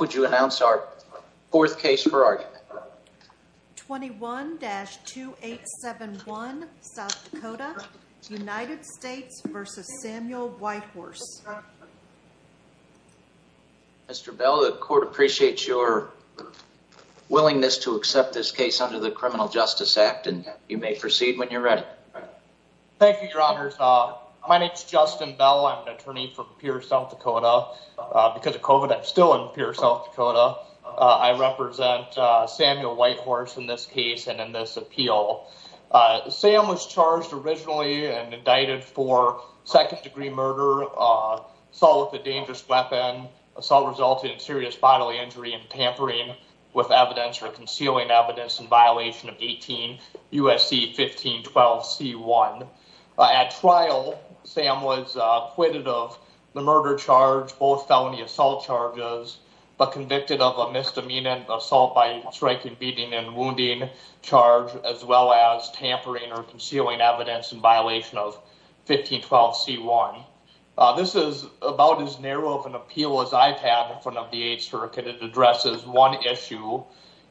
would you announce our fourth case for argument 21-2871 South Dakota United States v. Samuel White Horse Mr. Bell the court appreciates your willingness to accept this case under the criminal justice act and you may proceed when you're ready thank you your honors uh my name is Justin Bell I'm an attorney from Pierce South Dakota because of COVID I'm still in Pierce South Dakota I represent Samuel White Horse in this case and in this appeal Sam was charged originally and indicted for second-degree murder, assault with a dangerous weapon, assault resulting in serious bodily injury and tampering with evidence or concealing evidence in violation of 18 U.S.C. 1512 C.1. At trial Sam was acquitted of the murder charge both felony assault charges but convicted of a misdemeanor assault by striking beating and wounding charge as well as tampering or concealing evidence in violation of 1512 C.1. This is about as narrow of an appeal as I've had in front of the eighth circuit it addresses one issue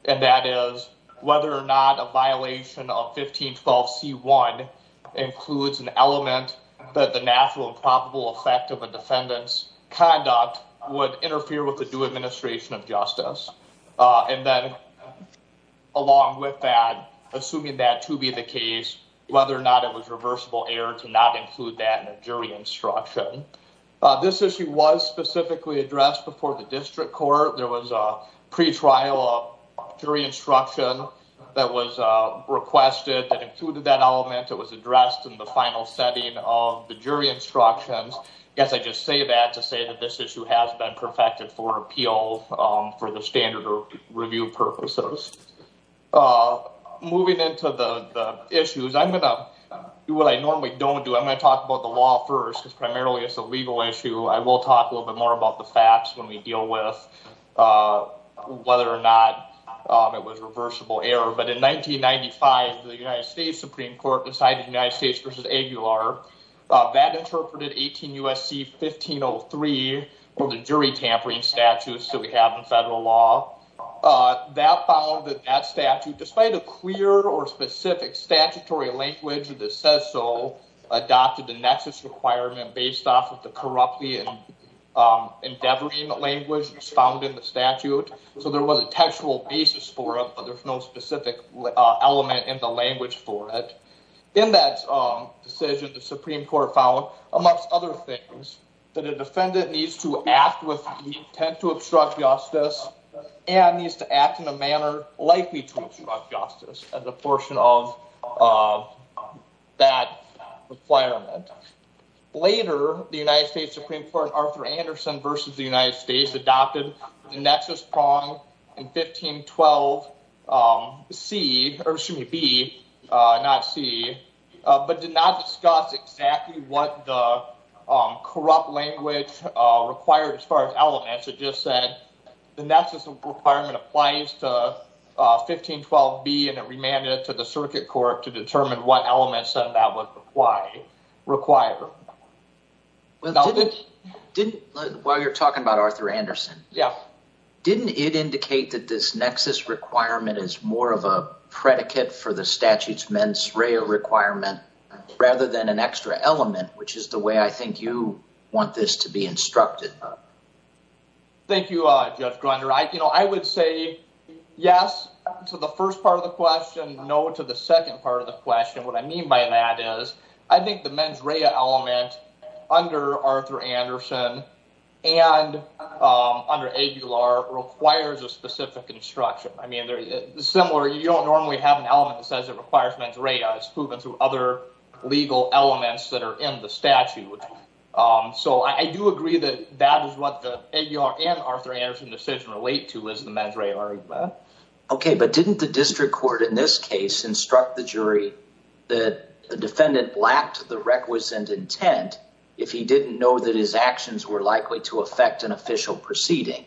and that is whether or not a violation of 1512 C.1 includes an element that the natural probable effect of a defendant's conduct would interfere with the due administration of justice and then along with that assuming that to be the case whether or not it was reversible error to not include that in a jury instruction. This issue was specifically addressed before the district court there was a pre-trial jury instruction that was requested that included that element addressed in the final setting of the jury instructions. I guess I just say that to say that this issue has been perfected for appeal for the standard review purposes. Moving into the issues I'm going to do what I normally don't do I'm going to talk about the law first because primarily it's a legal issue I will talk a little bit more about the facts when we deal with whether or not it was reversible error but in 1995 the United States Supreme Court decided United States versus Aguilar that interpreted 18 U.S.C. 1503 or the jury tampering statutes that we have in federal law that found that that statute despite a clear or specific statutory language that says so adopted the nexus requirement based off of the corruptly endeavoring language was found in the statute so there was a textual basis for it but there's no specific element in the language for it. In that decision the Supreme Court found amongst other things that a defendant needs to act with the intent to obstruct justice and needs to act in a manner likely to obstruct justice as a portion of that requirement. Later the United States Supreme Court Arthur Anderson versus the United States adopted the nexus prong in 1512 C or excuse me B not C but did not discuss exactly what the corrupt language required as far as elements it just said the nexus requirement applies to 1512 B and it remanded it to the didn't while you're talking about Arthur Anderson yeah didn't it indicate that this nexus requirement is more of a predicate for the statute's mens rea requirement rather than an extra element which is the way I think you want this to be instructed. Thank you uh Judge Grunder I you know I would say yes to the first part of the question no to the third part of the question I would say yes to the fact that the statute under Arthur Anderson and under ABLR requires a specific instruction. I mean they're similar you don't normally have an element that says it requires mens rea. It's proven through other legal elements that are in the statute so I do agree that that is what the ABLR and Arthur Anderson decision relate to is the mens rea. Okay but didn't the district court in this case instruct the jury that the defendant lacked the requisite intent if he didn't know that his actions were likely to affect an official proceeding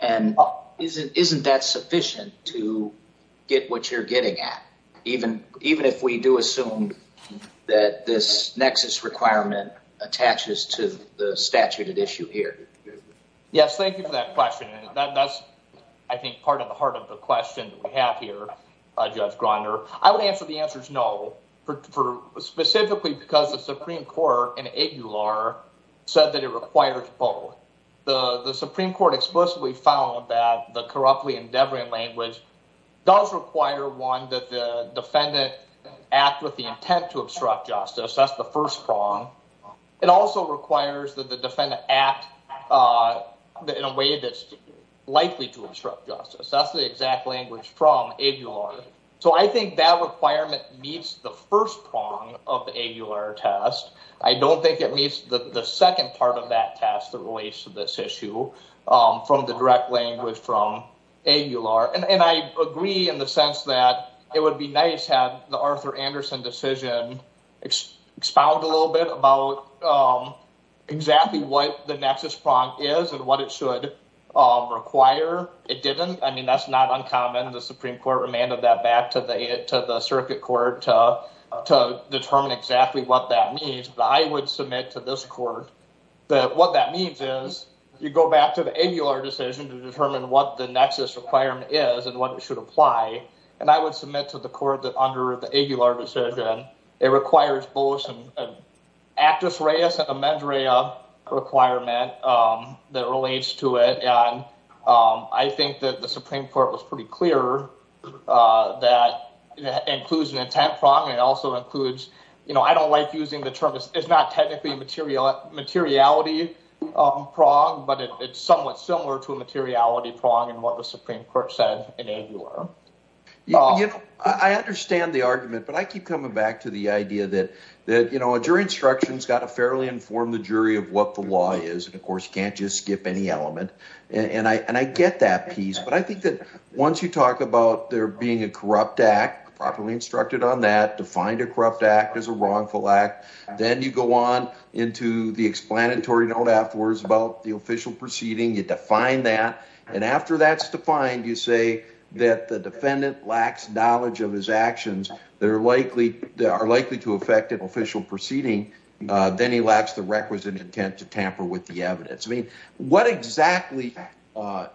and isn't that sufficient to get what you're getting at even if we do assume that this nexus requirement attaches to the statute at issue here? Yes thank you for that that's I think part of the heart of the question that we have here Judge Groner. I would answer the answer is no for specifically because the Supreme Court in ABLR said that it requires both. The Supreme Court explicitly found that the corruptly endeavoring language does require one that the defendant act with the intent to obstruct justice that's the first prong. It also requires that the defendant act in a way that's likely to obstruct justice that's the exact language from ABLR. So I think that requirement meets the first prong of the ABLR test. I don't think it meets the second part of that test that relates to this issue from the direct language from ABLR and I agree in the sense that it would be nice had the Arthur Anderson decision expound a little bit about exactly what the nexus prong is and what it should require. It didn't I mean that's not uncommon the Supreme Court remanded that back to the circuit court to determine exactly what that means but I would submit to this court that what that means is you go back to the ABLR decision to determine what the nexus requirement is and what it should apply and I would submit to the court that under the ABLR decision it requires both an actus reus and a medrea requirement that relates to it and I think that the Supreme Court was pretty clear that includes an intent prong it also includes you know I don't like using the term it's not technically material materiality prong but it's similar to a materiality prong and what the Supreme Court said in ABLR. I understand the argument but I keep coming back to the idea that that you know a jury instruction's got to fairly inform the jury of what the law is and of course you can't just skip any element and I and I get that piece but I think that once you talk about there being a corrupt act properly instructed on that defined a corrupt act as a wrongful act then you go on into the defined that and after that's defined you say that the defendant lacks knowledge of his actions they're likely they are likely to affect an official proceeding then he lacks the requisite intent to tamper with the evidence I mean what exactly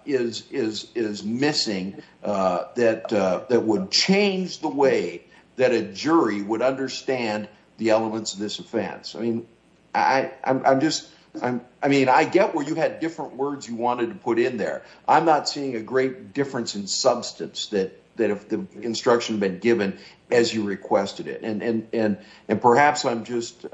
is is is missing that that would change the way that a jury would understand the elements of this offense I mean I I'm just I'm I mean I get where you had different words you wanted to put in there I'm not seeing a great difference in substance that that if the instruction been given as you requested it and and and and perhaps I'm just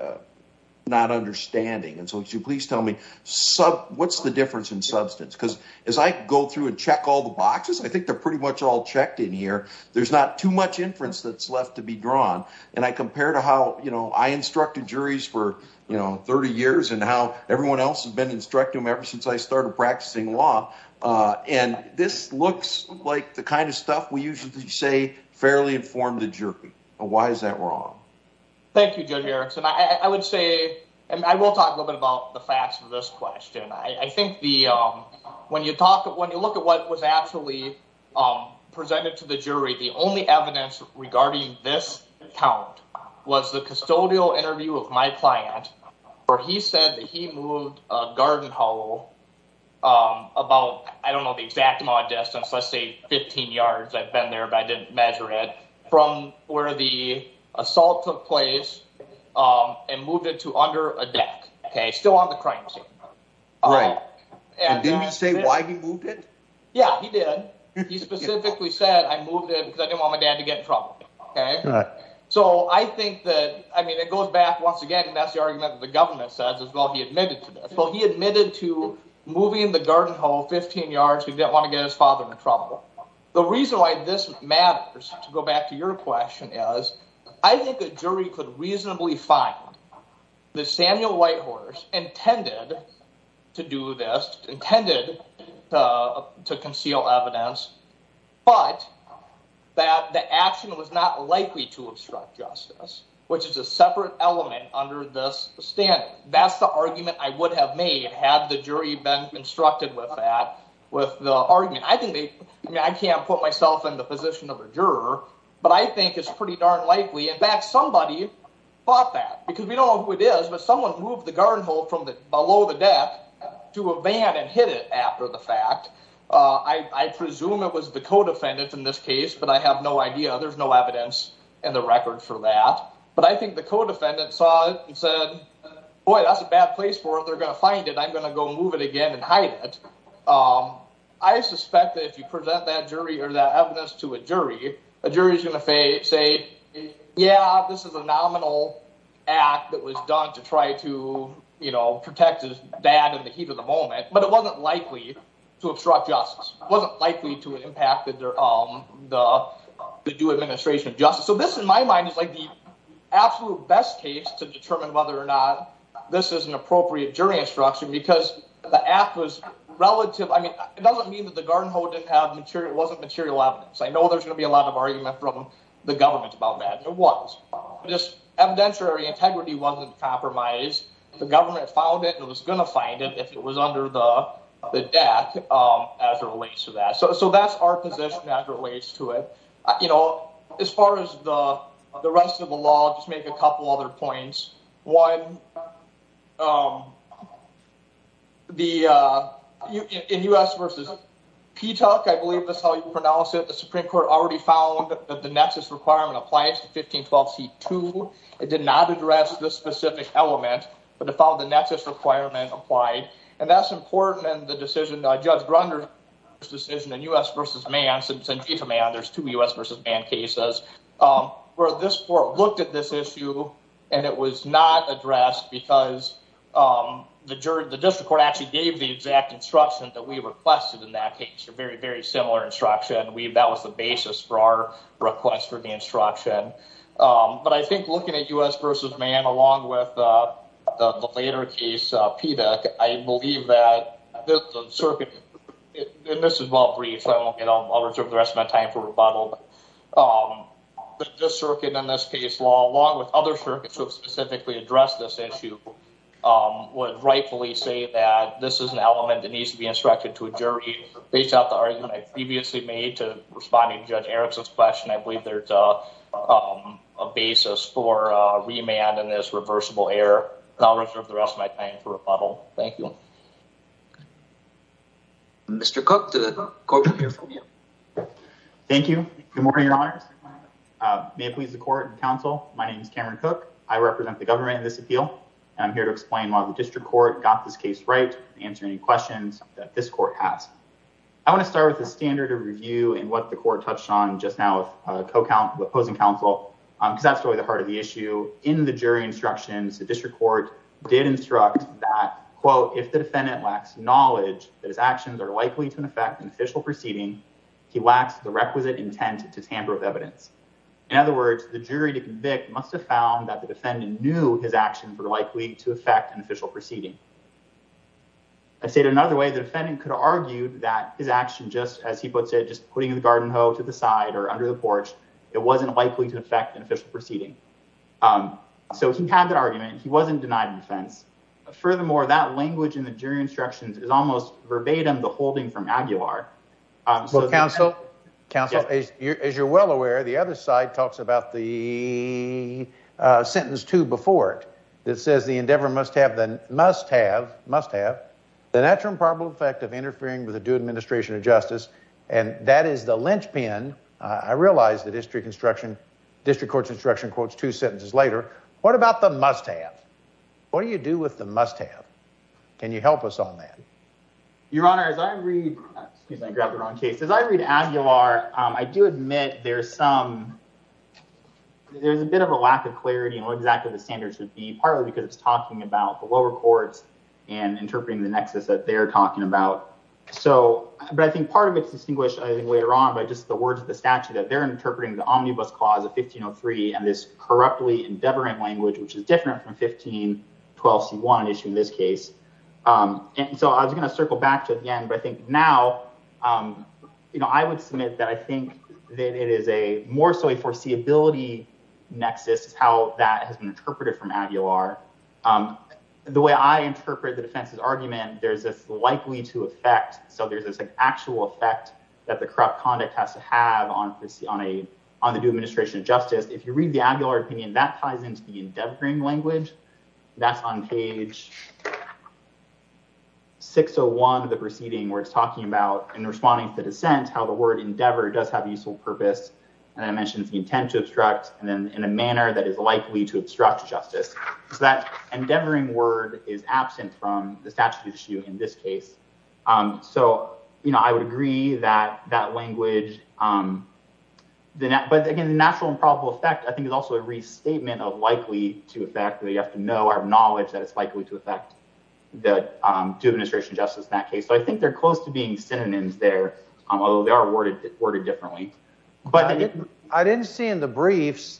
not understanding and so would you please tell me sub what's the difference in substance because as I go through and check all the boxes I think they're pretty much all checked in here there's not too much inference that's left to be drawn and I compare to how you know I instructed juries for you know 30 years and how everyone else has been instructing them ever since I started practicing law uh and this looks like the kind of stuff we usually say fairly informed the jury why is that wrong thank you judge Erickson I I would say and I will talk a little bit about the facts of this question I I think the um when you talk when you look at what was actually um presented to the jury the only evidence regarding this count was the custodial interview of my client where he said that he moved a garden hollow um about I don't know the exact distance let's say 15 yards I've been there but I didn't measure it from where the assault took place um and moved it to under a deck okay still on the crime scene right and didn't he say why he moved it yeah he did he specifically said I moved it because I didn't want my dad to get in trouble okay so I think that I mean it goes back once again and that's the argument that the government says as well he admitted to this well he admitted to moving the garden hole 15 yards he didn't want to get his father in trouble the reason why this matters to go back to your question is I think the jury could reasonably find that Samuel Whitehorse intended to do this intended uh to conceal evidence but that the action was not likely to obstruct justice which is a separate element under this standard that's the argument I would have made had the jury been instructed with that with the argument I think they I mean I can't put myself in the position of a juror but I think it's pretty darn likely in fact somebody bought that because we don't know who it is but someone moved the garden hole from the below the deck to a van and hit it after the fact uh I I presume it was the co-defendant in this case but I have no idea there's no evidence in the record for that but I think the co-defendant saw it and said boy that's a bad place for it they're gonna find it I'm gonna go move it again and hide it um I suspect that if you present that jury or that evidence to a jury a jury is going to say say yeah this is a nominal act that was done to try to you know protect his dad in the heat of the moment but it wasn't likely to obstruct justice wasn't likely to impact their um the due administration of justice so this in my mind is like the absolute best case to determine whether or not this is an appropriate jury instruction because the act was relative I mean it doesn't mean that the garden hole didn't have material wasn't material evidence I know there's going to be a lot of argument from the government about that and it was just evidentiary integrity wasn't compromised the government found it and was going to find it if it was under the the deck um as it relates to that so so that's our position as it relates to it you know as far as the the rest of the law just make a couple other points one um the uh in u.s versus p tuck I believe that's how you pronounce it the supreme court already found that the nexus requirement applies to 1512 c 2 it did not address this specific element but it found the nexus requirement applied and that's important and the decision judge grunder's decision in u.s versus man since in chief of man there's two u.s versus man cases um where this court looked at this issue and it was not addressed because um the jury the district court actually gave the exact instruction that we requested in that case a very very similar instruction we that was the basis for our request for the instruction um but I think looking at u.s versus man along with uh the later case p deck I believe that this circuit and this is well brief I'll reserve the rest of my time for rebuttal um the circuit in this case law along with other circuits who have specifically addressed this issue um would rightfully say that this is an element that needs to be instructed to a jury based off the argument I previously made to responding to judge eric's question I believe there's uh um a basis for uh remand and this reversible error and I'll reserve the rest of my time for rebuttal thank you okay Mr. Cook to the courtroom here for me thank you good morning your honors may it please the court and counsel my name is Cameron Cook I represent the government in this appeal and I'm here to explain why the district court got this case right answer any questions that this court has I want to start with a standard of review and what the court touched on just now with a co-count opposing counsel um because that's really the heart of the issue in the jury instructions the district court did instruct that quote if the defendant lacks knowledge that his actions are likely to affect an official proceeding he lacks the requisite intent to tamper with evidence in other words the jury to convict must have found that the defendant knew his actions were likely to affect an official proceeding I stated another way the defendant could argue that his action just as he puts it just putting the garden hoe to the side or under the porch it wasn't likely to affect an official proceeding um so he had that argument he wasn't denied defense furthermore that language in the jury instructions is almost verbatim the holding from aguilar um so counsel counsel as you're well aware the other side talks about the sentence two before it that says the endeavor must have the must have must have the natural and probable effect of interfering with the due administration of justice and that is the district construction district court's instruction quotes two sentences later what about the must have what do you do with the must have can you help us on that your honor as i read excuse me i grabbed the wrong case as i read aguilar um i do admit there's some there's a bit of a lack of clarity on what exactly the standards should be partly because it's talking about the lower courts and interpreting the nexus that they're talking about so but i think part of it's distinguished i think later on by just the words of the statute that are interpreting the omnibus clause of 1503 and this corruptly endeavoring language which is different from 1512 c1 issue in this case um and so i was going to circle back to again but i think now um you know i would submit that i think that it is a more so a foreseeability nexus how that has been interpreted from aguilar um the way i interpret the defense's argument there's this actual effect that the corrupt conduct has to have on this on a on the new administration of justice if you read the aguilar opinion that ties into the endeavoring language that's on page 601 of the proceeding where it's talking about in responding to dissent how the word endeavor does have a useful purpose and i mentioned the intent to obstruct and then in a manner that is likely to obstruct justice so that endeavoring word is absent from the statute issue in this case um so you know i would agree that that language um then but again the natural and probable effect i think is also a restatement of likely to affect that you have to know our knowledge that it's likely to affect the two administration justice in that case so i think they're close to being synonyms there although they are worded worded differently but i didn't see in the briefs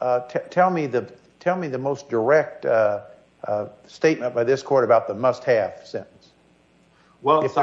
uh tell me the tell me the most direct uh uh statement by this court about the must-have sentence well it's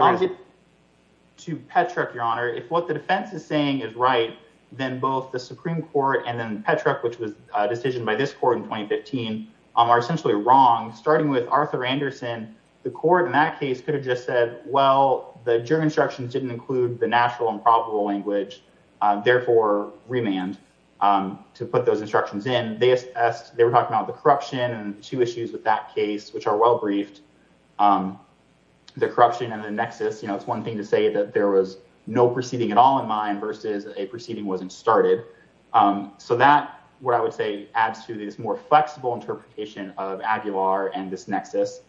to petrick your honor if what the defense is saying is right then both the supreme court and then petrick which was a decision by this court in 2015 um are essentially wrong starting with arthur anderson the court in that case could have just said well the juror instructions didn't include the natural and probable language uh therefore remand um to put those instructions in they asked they were talking about the corruption and two issues with that case which are well briefed um the corruption and the nexus you know it's one thing to say that there was no proceeding at all in mind versus a proceeding wasn't started um so that what i would say adds to this more flexible interpretation of aguilar and this nexus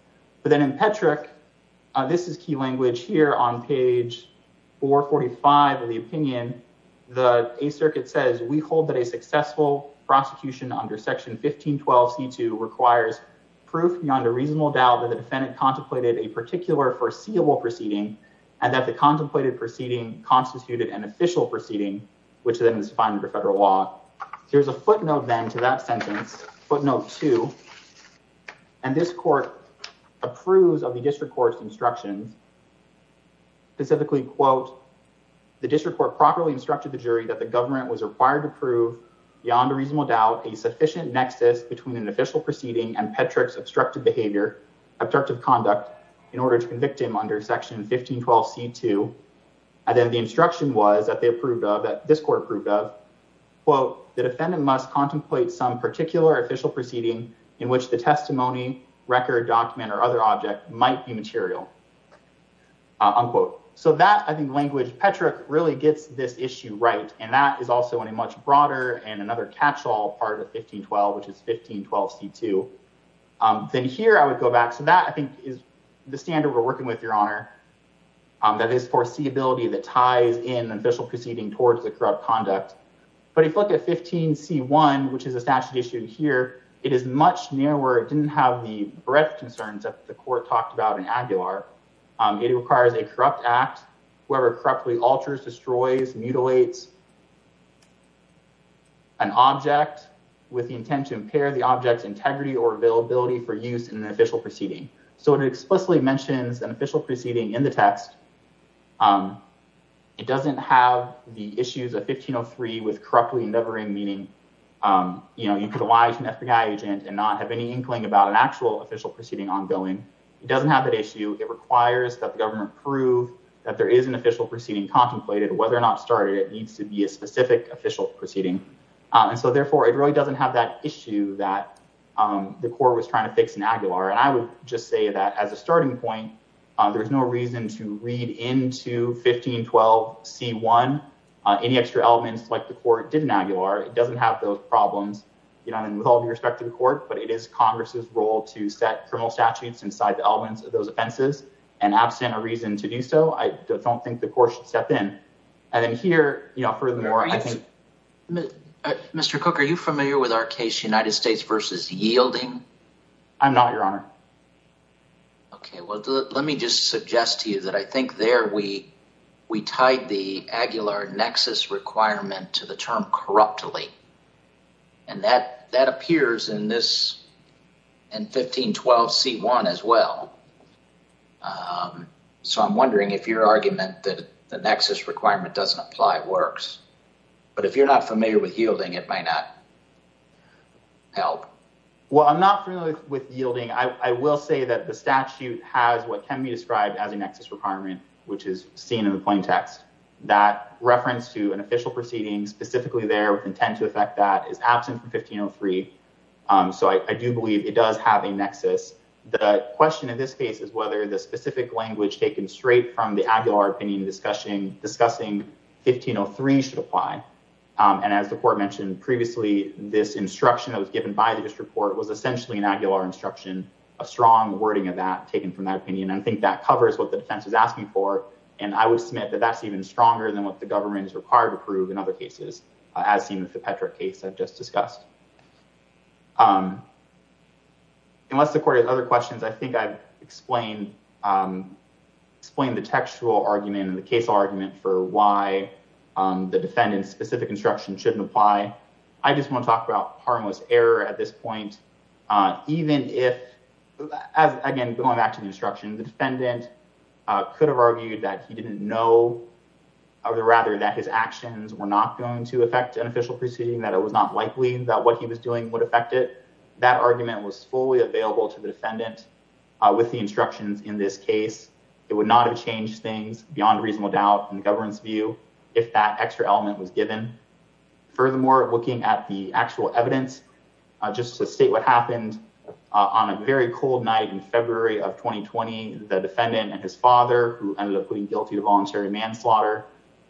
but then in petrick this is key language here on page 445 of the opinion the a circuit says we hold that a defendant contemplated a particular foreseeable proceeding and that the contemplated proceeding constituted an official proceeding which then is fine under federal law there's a footnote then to that sentence footnote two and this court approves of the district court's instructions specifically quote the district court properly instructed the jury that the government was required to prove beyond a reasonable doubt a sufficient nexus between an official proceeding and petrick's obstructive behavior obstructive conduct in order to convict him under section 1512 c2 and then the instruction was that they approved of that this court proved of quote the defendant must contemplate some particular official proceeding in which the testimony record document or other object might be material unquote so that i think language petrick really gets this issue right and that is also in a much broader and another catch-all part of 1512 which is 1512 c2 then here i would go back to that i think is the standard we're working with your honor that is foreseeability that ties in official proceeding towards the corrupt conduct but if you look at 15 c1 which is a statute issue here it is much nearer it didn't have the breadth concerns that the court talked about in aguilar it requires a corrupt act whoever corruptly alters destroys mutilates an object with the intent to impair the object's integrity or availability for use in an official proceeding so it explicitly mentions an official proceeding in the text it doesn't have the issues of 1503 with corruptly endeavoring meaning you know you could lie to an FBI agent and not have any inkling about an actual official proceeding ongoing it doesn't have that issue it requires that the government prove that there is an official proceeding contemplated whether or not started it needs to be started a specific official proceeding and so therefore it really doesn't have that issue that the court was trying to fix in aguilar and i would just say that as a starting point there's no reason to read into 1512 c1 any extra elements like the court did in aguilar it doesn't have those problems you know and with all due respect to the court but it is congress's role to set criminal statutes inside the elements of those offenses and absent a reason to do so i don't think the court should step in and then here you know furthermore i think mr cook are you familiar with our case united states versus yielding i'm not your honor okay well let me just suggest to you that i think there we we tied the aguilar nexus requirement to the term corruptly and that that appears in this in 1512 c1 as well um so i'm wondering if your argument that the nexus requirement doesn't apply works but if you're not familiar with yielding it might not help well i'm not familiar with yielding i will say that the statute has what can be described as a nexus requirement which is seen in the plain text that reference to an official proceeding specifically there with intent to affect that is absent from 1503 so i do believe it does have a nexus the question in this case is whether the specific language taken straight from the aguilar opinion discussion discussing 1503 should apply and as the court mentioned previously this instruction that was given by the district court was essentially an aguilar instruction a strong wording of that taken from that opinion i think that covers what the defense is asking for and i would submit that that's even stronger than what the government is required to prove in other cases as seen i've just discussed um unless the court has other questions i think i've explained um explained the textual argument and the case argument for why um the defendant's specific instruction shouldn't apply i just want to talk about harmless error at this point uh even if as again going back to the instruction the defendant uh could have argued that he didn't know or rather that his actions were not going to affect an official proceeding that it was not likely that what he was doing would affect it that argument was fully available to the defendant with the instructions in this case it would not have changed things beyond reasonable doubt in the government's view if that extra element was given furthermore looking at the actual evidence just to state what happened on a very cold night in february of 2020 the defendant and his father who ended up putting guilty to voluntary manslaughter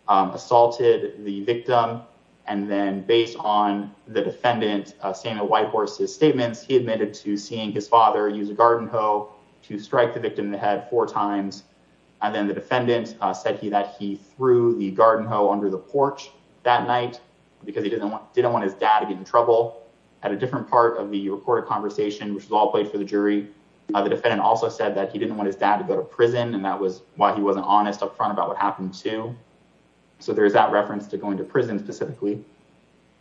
assaulted the victim and then based on the defendant saying a white horse his statements he admitted to seeing his father use a garden hoe to strike the victim in the head four times and then the defendant said he that he threw the garden hoe under the porch that night because he didn't want didn't want his dad to get in trouble at a different part of the recorded conversation which was all played for the jury the defendant also said that he didn't want his dad to go to prison and that was why he wasn't honest up front about what happened too so there's that reference to going to prison specifically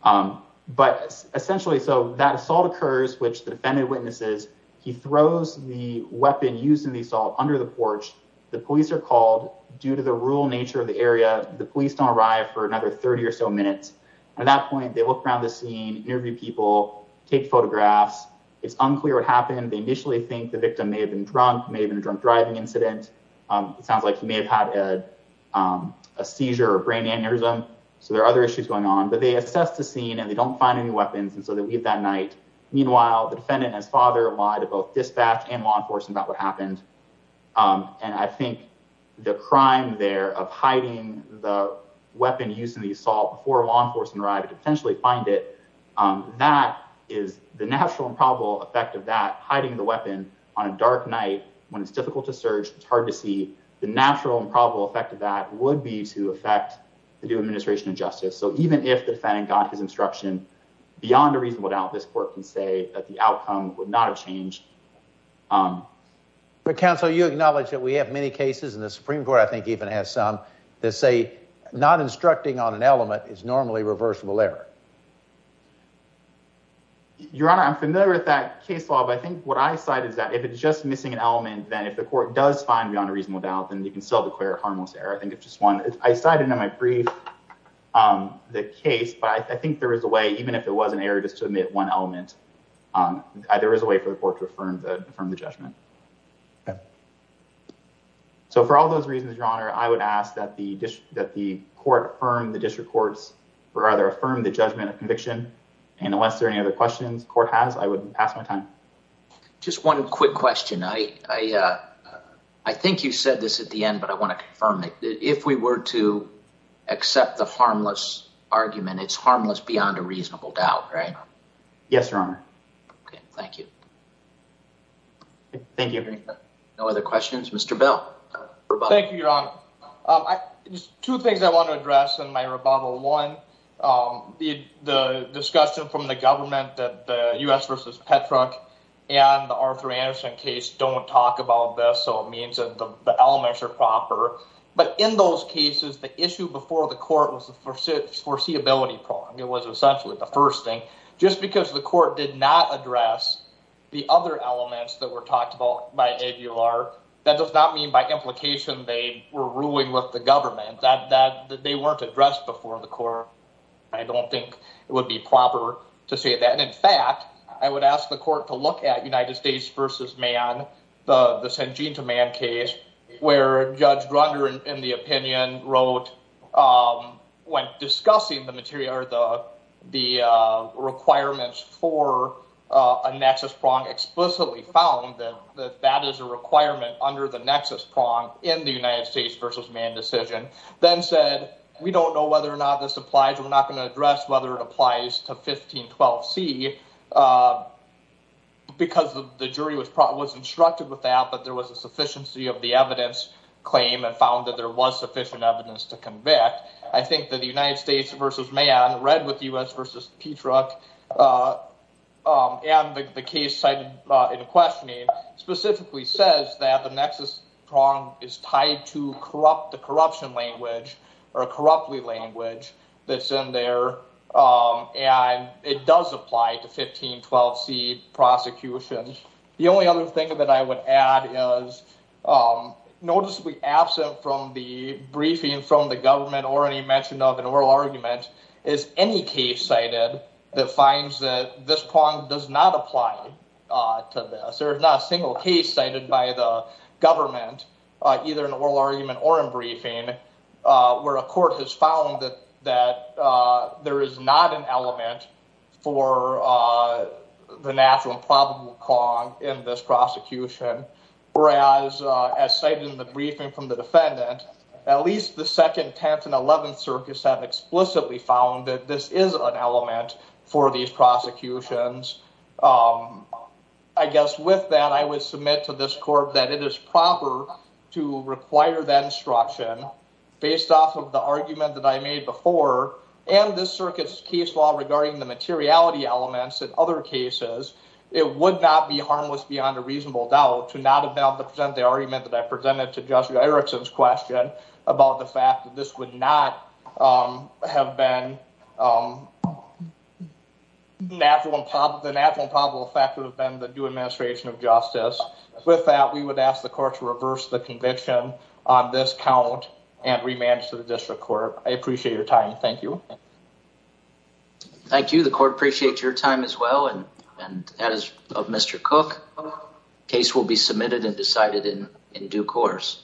um but essentially so that assault occurs which the defendant witnesses he throws the weapon used in the assault under the porch the police are called due to the rural nature of the area the police don't arrive for another 30 or so minutes at that point they look around the scene interview people take photographs it's unclear what happened they initially think the victim may have been drunk may have been a drunk driving incident um it sounds like he may have had a a seizure or brain aneurysm so there are other issues going on but they assess the scene and they don't find any weapons and so they leave that night meanwhile the defendant and his father lied to both dispatch and law enforcement about what happened um and i think the crime there of that is the natural and probable effect of that hiding the weapon on a dark night when it's difficult to search it's hard to see the natural and probable effect of that would be to affect the new administration of justice so even if the defendant got his instruction beyond a reasonable doubt this court can say that the outcome would not have changed but counsel you acknowledge that we have many cases and the supreme court i think even has some that say not instructing on an element is normally reversible error your honor i'm familiar with that case law but i think what i cited is that if it's just missing an element then if the court does find beyond a reasonable doubt then you can still declare harmless error i think it's just one i cited in my brief um the case but i think there is a way even if it was an error just to omit one element um there is a way for the court to affirm the judgment so for all those reasons your honor i would ask that the district that the court affirmed the district courts rather affirm the judgment of conviction and unless there are any other questions court has i would pass my time just one quick question i i uh i think you said this at the end but i want to confirm that if we were to accept the harmless argument it's harmless beyond a reasonable doubt right yes your honor okay thank you thank you no other questions mr bell thank you your honor um just two things i want to address in my rebuttal one um the the discussion from the government that the u.s versus petruck and the arthur anderson case don't talk about this so it means that the elements are proper but in those cases the issue before the court was the foreseeability problem it was essentially the first thing just because the court did not address the other elements that were talked about by abular that does not mean by implication they were ruling with the government that that they weren't addressed before the court i don't think it would be proper to say that in fact i would ask the court to look at united states versus man the the sanjeev to man case where judge grunder in the opinion wrote um when discussing the material or the the uh requirements for uh a nexus prong explicitly found that that that is a requirement under the nexus prong in the united states versus man decision then said we don't know whether or not this applies we're not going to address whether it applies to 1512 c uh because the jury was probably instructed with that but there was a sufficiency of the evidence claim and found that there was sufficient evidence to convict i think that the united states versus man read with us versus petruck uh um and the case cited in questioning specifically says that the nexus prong is tied to corrupt the corruption language or a corruptly language that's in there um and it does apply to 1512 c prosecutions the only other thing that i would add is um noticeably absent from the briefing from the government or any mention of an oral argument is any case cited that finds that this prong does not apply uh to this there is not a single case cited by the government uh either an oral argument or in briefing uh where a court has found that that uh there is not an element for uh the natural and probable cong in this prosecution whereas as cited in the briefing from the defendant at least the second tenth and eleventh circus have explicitly found that this is an element for these prosecutions um i guess with that i would submit to this court that it is proper to require that instruction based off of the argument that i made before and this circuit's case law regarding the materiality elements in other cases it would not be harmless beyond a reasonable doubt to not have been able to present the argument that i presented to joshua erickson's question about the fact that this would not um have been um natural and probable the natural and probable effect would have been the new administration of justice with that we would ask the court to reverse the conviction on this count and remand to the district court i appreciate your time thank you thank you the court appreciate your time as well and and as of mr cook case will be submitted and decided in in due course